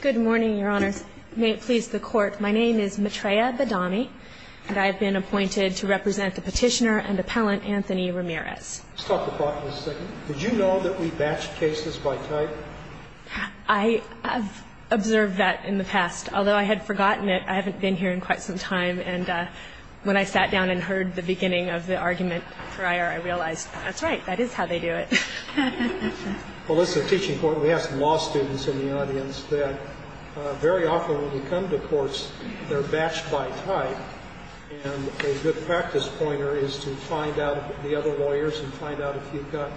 Good morning, Your Honor. May it please the Court, my name is Matreya Badami, and I have been appointed to represent the petitioner and appellant, Anthony Ramirez. Let's talk about this a second. Did you know that we batch cases by type? I have observed that in the past. Although I had forgotten it, I haven't been here in quite some time, and when I sat down and heard the beginning of the argument prior, I realized, that's right, that is how they do it. Well, listen, teaching court, we have some law students in the audience that very often when we come to courts, they're batched by type. And a good practice pointer is to find out the other lawyers and find out if you've got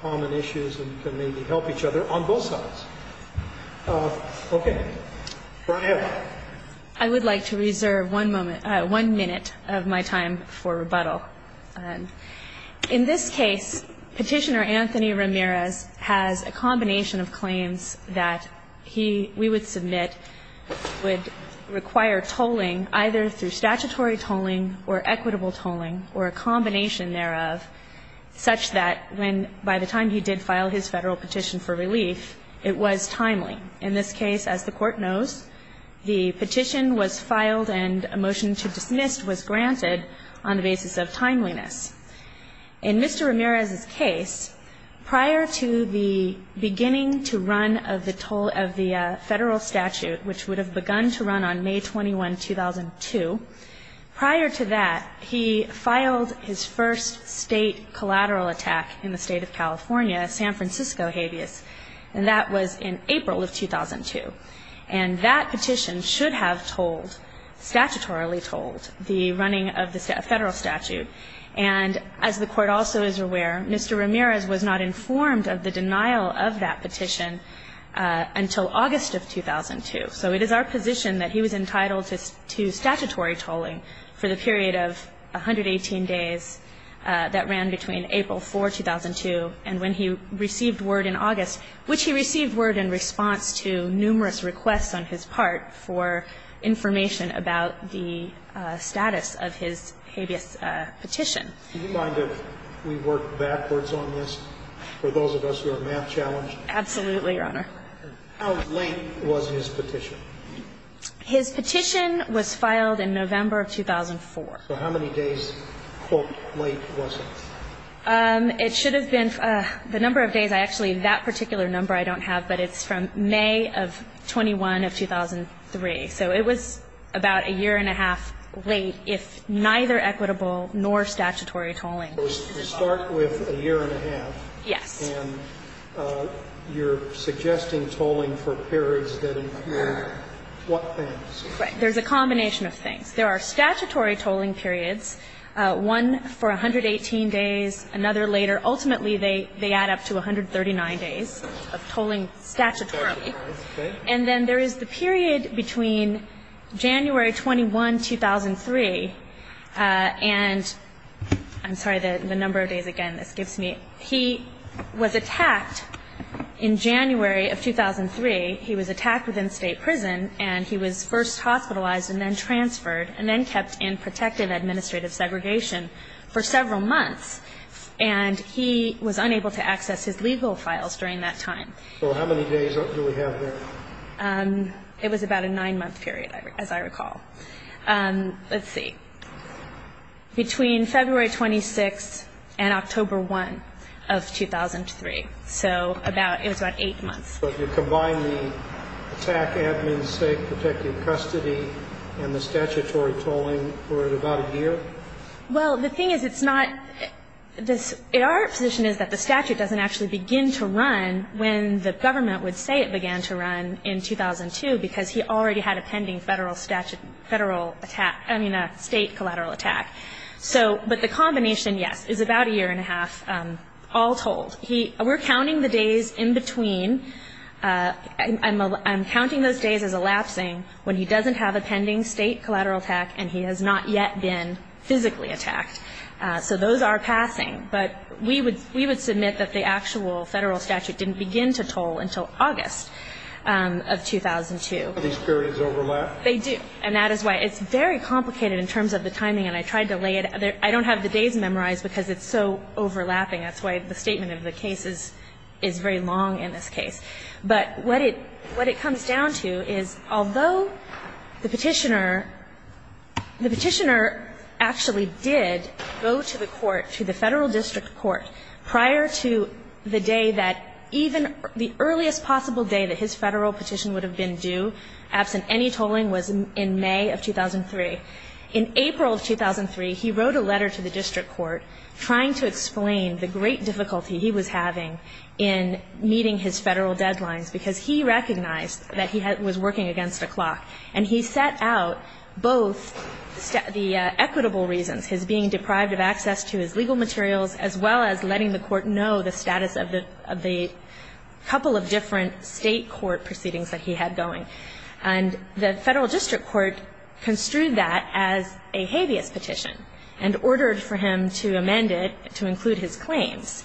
common issues and can maybe help each other on both sides. Okay, go ahead. I would like to reserve one moment, one minute of my time for rebuttal. In this case, Petitioner Anthony Ramirez has a combination of claims that he, we would submit, would require tolling, either through statutory tolling or equitable tolling, or a combination thereof, such that when, by the time he did file his Federal petition for relief, it was timely. In this case, as the Court knows, the petition was filed and a motion to dismiss was granted on the basis of timeliness. In Mr. Ramirez's case, prior to the beginning to run of the toll of the Federal statute, which would have begun to run on May 21, 2002, prior to that, he filed his first State collateral attack in the State of California, San Francisco habeas. And that was in April of 2002. And that petition should have tolled, statutorily tolled, the running of the Federal statute. And as the Court also is aware, Mr. Ramirez was not informed of the denial of that petition until August of 2002. So it is our position that he was entitled to statutory tolling for the period of 118 days that ran between April 4, 2002, and when he received word in August, which he received word in response to numerous requests on his part for information about the status of his habeas petition. Do you mind if we work backwards on this, for those of us who are math-challenged? Absolutely, Your Honor. How late was his petition? His petition was filed in November of 2004. So how many days, quote, late was it? It should have been the number of days. Actually, that particular number I don't have, but it's from May of 21 of 2003. So it was about a year and a half late, if neither equitable nor statutory tolling. So we start with a year and a half. Yes. And you're suggesting tolling for periods that include what things? Right. There's a combination of things. There are statutory tolling periods, one for 118 days, another later. Ultimately, they add up to 139 days of tolling statutorily. And then there is the period between January 21, 2003, and I'm sorry, the number of days again this gives me. He was attacked in January of 2003. He was attacked within state prison, and he was first hospitalized and then transferred and then kept in protective administrative segregation for several months, and he was unable to access his legal files during that time. So how many days do we have there? It was about a nine-month period, as I recall. Let's see. Between February 26 and October 1 of 2003. So it was about eight months. So if you combine the attack, admin, safe, protective custody, and the statutory tolling for about a year? Well, the thing is it's not this. Our position is that the statute doesn't actually begin to run when the government would say it began to run in 2002 because he already had a pending federal statute federal attack, I mean a state collateral attack. So but the combination, yes, is about a year and a half, all told. We're counting the days in between. I'm counting those days as elapsing when he doesn't have a pending state collateral attack and he has not yet been physically attacked. So those are passing. But we would submit that the actual federal statute didn't begin to toll until August of 2002. Do these periods overlap? They do. And that is why it's very complicated in terms of the timing, and I tried to lay it out. I don't have the days memorized because it's so overlapping. That's why the statement of the case is very long in this case. But what it comes down to is, although the Petitioner, the Petitioner actually did go to the court, to the Federal District Court, prior to the day that even the earliest possible day that his Federal petition would have been due, absent any tolling, was in May of 2003. In April of 2003, he wrote a letter to the District Court trying to explain the great difficulty he was having in meeting his federal deadlines because he recognized that he was working against the clock. And he set out both the equitable reasons, his being deprived of access to his legal materials, as well as letting the court know the status of the couple of different state court proceedings that he had going. And the Federal District Court construed that as a habeas petition and ordered for him to amend it to include his claims.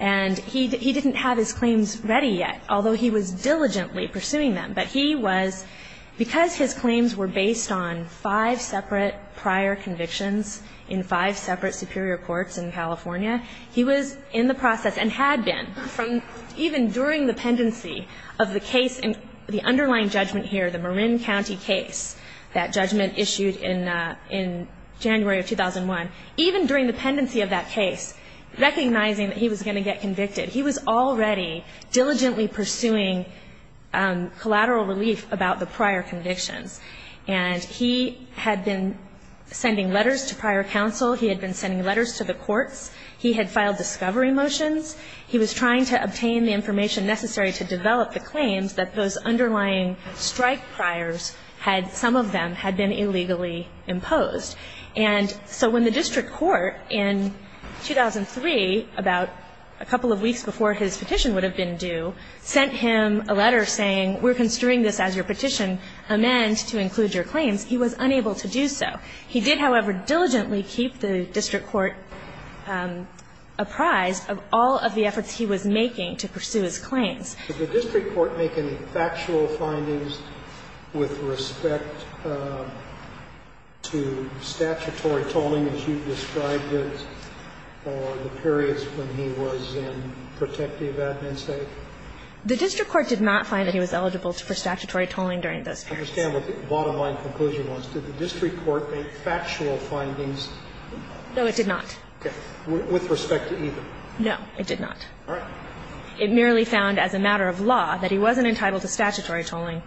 And he didn't have his claims ready yet, although he was diligently pursuing them. But he was, because his claims were based on five separate prior convictions in five separate superior courts in California, he was in the process and had been from even during the pendency of the case, the underlying judgment here, the Marin County case, that judgment issued in January of 2001, even during the pendency of that case, recognizing that he was going to get convicted, he was already diligently pursuing collateral relief about the prior convictions. And he had been sending letters to prior counsel. He had been sending letters to the courts. He had filed discovery motions. He was trying to obtain the information necessary to develop the claims that those underlying strike priors had, some of them, had been illegally imposed. And so when the district court in 2003, about a couple of weeks before his petition would have been due, sent him a letter saying we're construing this as your petition, amend to include your claims, he was unable to do so. He did, however, diligently keep the district court apprised of all of the efforts he was making to pursue his claims. Did the district court make any factual findings with respect to statutory tolling, as you've described it, or the periods when he was in protective admin state? The district court did not find that he was eligible for statutory tolling during those periods. I don't understand what the bottom line conclusion was. Did the district court make factual findings? No, it did not. Okay. With respect to either? No, it did not. All right. It merely found as a matter of law that he wasn't entitled to statutory tolling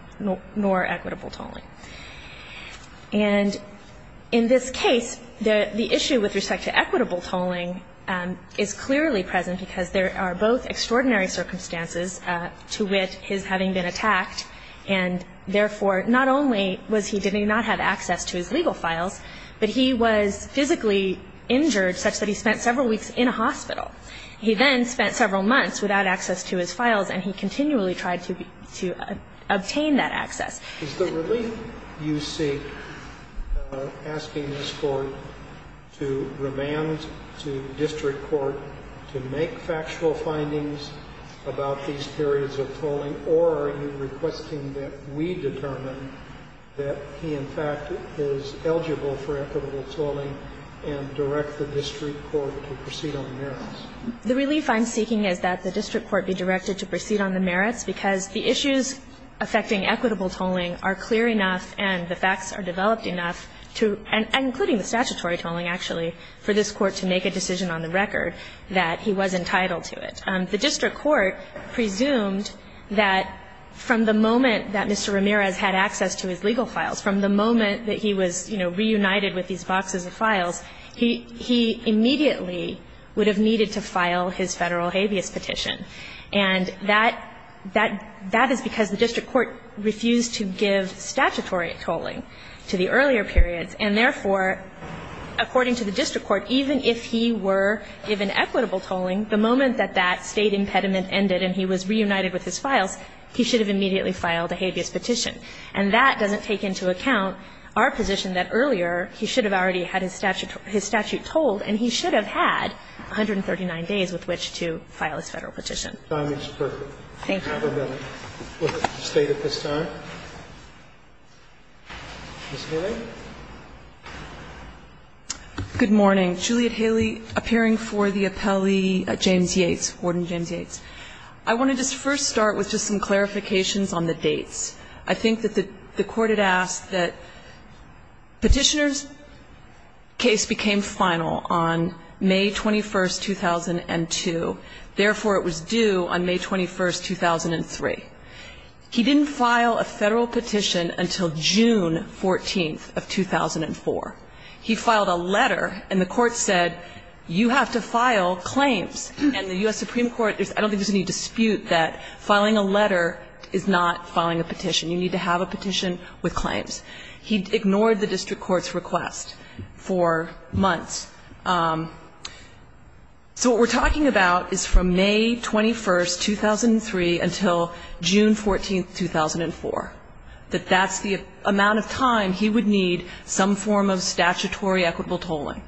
nor equitable tolling. And in this case, the issue with respect to equitable tolling is clearly present because there are both extraordinary circumstances to which his having been attacked and, therefore, not only was he did not have access to his legal files, but he was physically injured such that he spent several weeks in a hospital. He then spent several months without access to his files, and he continually tried to obtain that access. Is the relief you seek asking this Court to remand to district court to make factual findings about these periods of tolling? Or are you requesting that we determine that he, in fact, is eligible for equitable tolling and direct the district court to proceed on the merits? The relief I'm seeking is that the district court be directed to proceed on the merits, because the issues affecting equitable tolling are clear enough and the facts are developed enough to, and including the statutory tolling, actually, for this Court to make a decision on the record that he was entitled to it. The district court presumed that from the moment that Mr. Ramirez had access to his legal files, from the moment that he was, you know, reunited with these boxes of files, he immediately would have needed to file his Federal habeas petition. And that is because the district court refused to give statutory tolling to the earlier periods, and therefore, according to the district court, even if he were given equitable tolling, the moment that that State impediment ended and he was reunited with his files, he should have immediately filed a habeas petition. And that doesn't take into account our position that earlier he should have already had his statute tolled, and he should have had 139 days with which to file his Federal petition. Thank you. Have a minute. State at this time. Ms. Haley? Good morning. Juliet Haley, appearing for the appellee James Yates, Warden James Yates. I want to just first start with just some clarifications on the dates. I think that the Court had asked that Petitioner's case became final on May 21st, 2002. Therefore, it was due on May 21st, 2003. He didn't file a Federal petition until June 14th of 2004. He filed a letter, and the Court said, you have to file claims. And the U.S. Supreme Court, I don't think there's any dispute that filing a letter is not filing a petition. You need to have a petition with claims. He ignored the district court's request for months. So what we're talking about is from May 21st, 2003, until June 14th, 2004, that that's the amount of time he would need some form of statutory equitable tolling.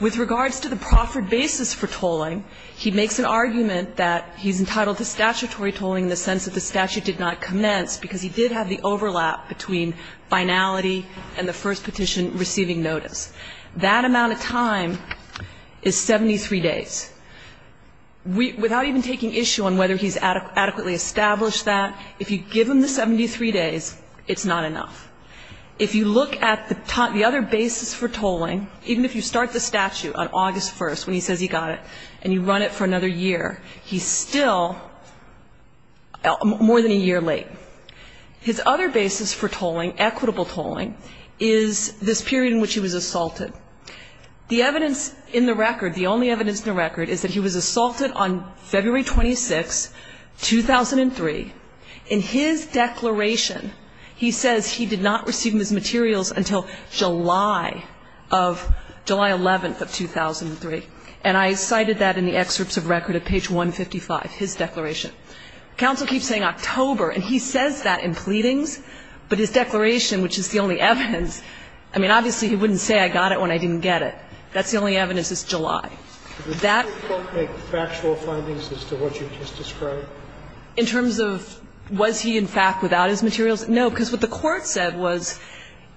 With regards to the proffered basis for tolling, he makes an argument that he's entitled to statutory tolling in the sense that the statute did not commence, because he did have the overlap between finality and the first petition receiving notice. That amount of time is 73 days. Without even taking issue on whether he's adequately established that, if you give him the 73 days, it's not enough. If you look at the other basis for tolling, even if you start the statute on August 1st, when he says he got it, and you run it for another year, he's still more than a year late. His other basis for tolling, equitable tolling, is this period in which he was assaulted. The evidence in the record, the only evidence in the record, is that he was assaulted on February 26th, 2003. In his declaration, he says he did not receive his materials until July of, July 11th of 2003. And I cited that in the excerpts of record at page 155, his declaration. Counsel keeps saying October, and he says that in pleadings, but his declaration, which is the only evidence, I mean, obviously, he wouldn't say I got it when I didn't get it. That's the only evidence is July. That ---- Sotomayor, did the court make factual findings as to what you just described? In terms of was he, in fact, without his materials? No, because what the court said was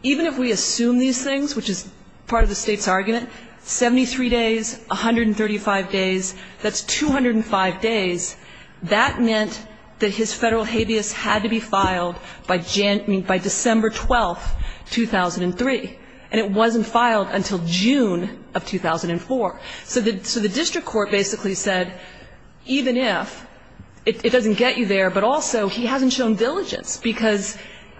even if we assume these things, which is part of the State's argument, 73 days, 135 days, that's 205 days, that meant that his federal habeas had to be filed by December 12th, 2003. And it wasn't filed until June of 2004. So the district court basically said even if, it doesn't get you there, but also he hasn't shown diligence because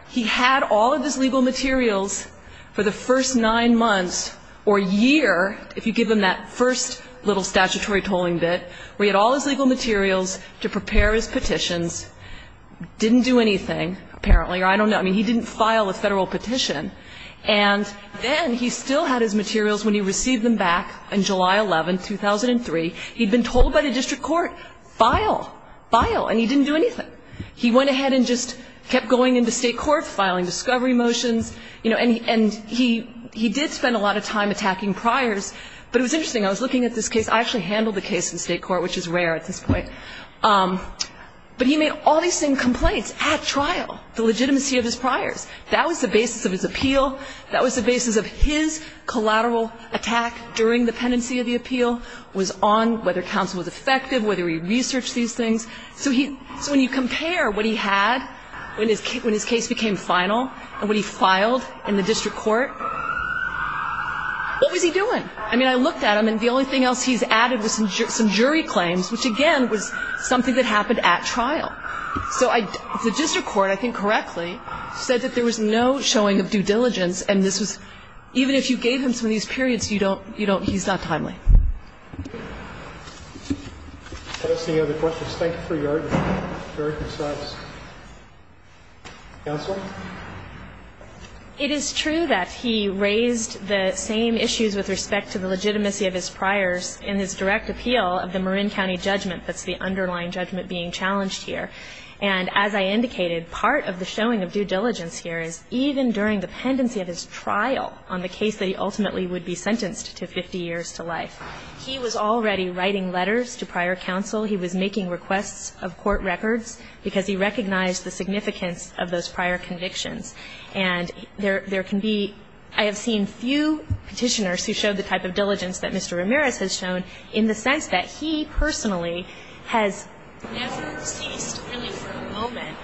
he had all of his legal materials for the first nine months or year, if you give him that first little statutory tolling bit, where he had all his legal materials to prepare his petitions, didn't do anything apparently, or I don't know. I mean, he didn't file a federal petition. And then he still had his materials when he received them back in July 11th, 2003. He'd been told by the district court, file, file, and he didn't do anything. He went ahead and just kept going into State court, filing discovery motions, and he did spend a lot of time attacking priors. But it was interesting. I was looking at this case. I actually handled the case in State court, which is rare at this point. But he made all these same complaints at trial, the legitimacy of his priors. That was the basis of his appeal. That was the basis of his collateral attack during the pendency of the appeal was on whether counsel was effective, whether he researched these things. So when you compare what he had when his case became final and what he filed in the district court, what was he doing? I mean, I looked at him, and the only thing else he's added was some jury claims, which, again, was something that happened at trial. So the district court, I think correctly, said that there was no showing of due diligence, and this was, even if you gave him some of these periods, you don't he's not timely. Any other questions? Thank you for your very concise counsel. It is true that he raised the same issues with respect to the legitimacy of his priors in his direct appeal of the Marin County judgment. That's the underlying judgment being challenged here. And as I indicated, part of the showing of due diligence here is even during the pendency of his trial on the case that he ultimately would be sentenced to 50 years to life. He was already writing letters to prior counsel. He was making requests of court records because he recognized the significance of those prior convictions. And there can be ñ I have seen few petitioners who showed the type of diligence that Mr. Ramirez has shown in the sense that he personally has never ceased, really, for a moment,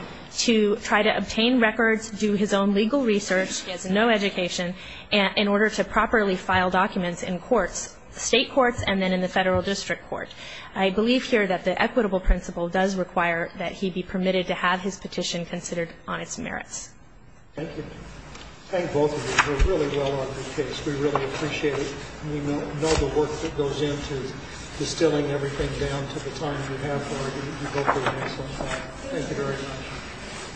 to try to obtain records, do his own legal research. He has no education. And in order to properly file documents in courts, state courts, and then in the federal district court. I believe here that the equitable principle does require that he be permitted to have his petition considered on its merits. Thank you. Thank both of you. You were really well on the case. We really appreciate it. We know the work that goes into distilling everything down to the time you have for it. You both did an excellent job. Thank you very much.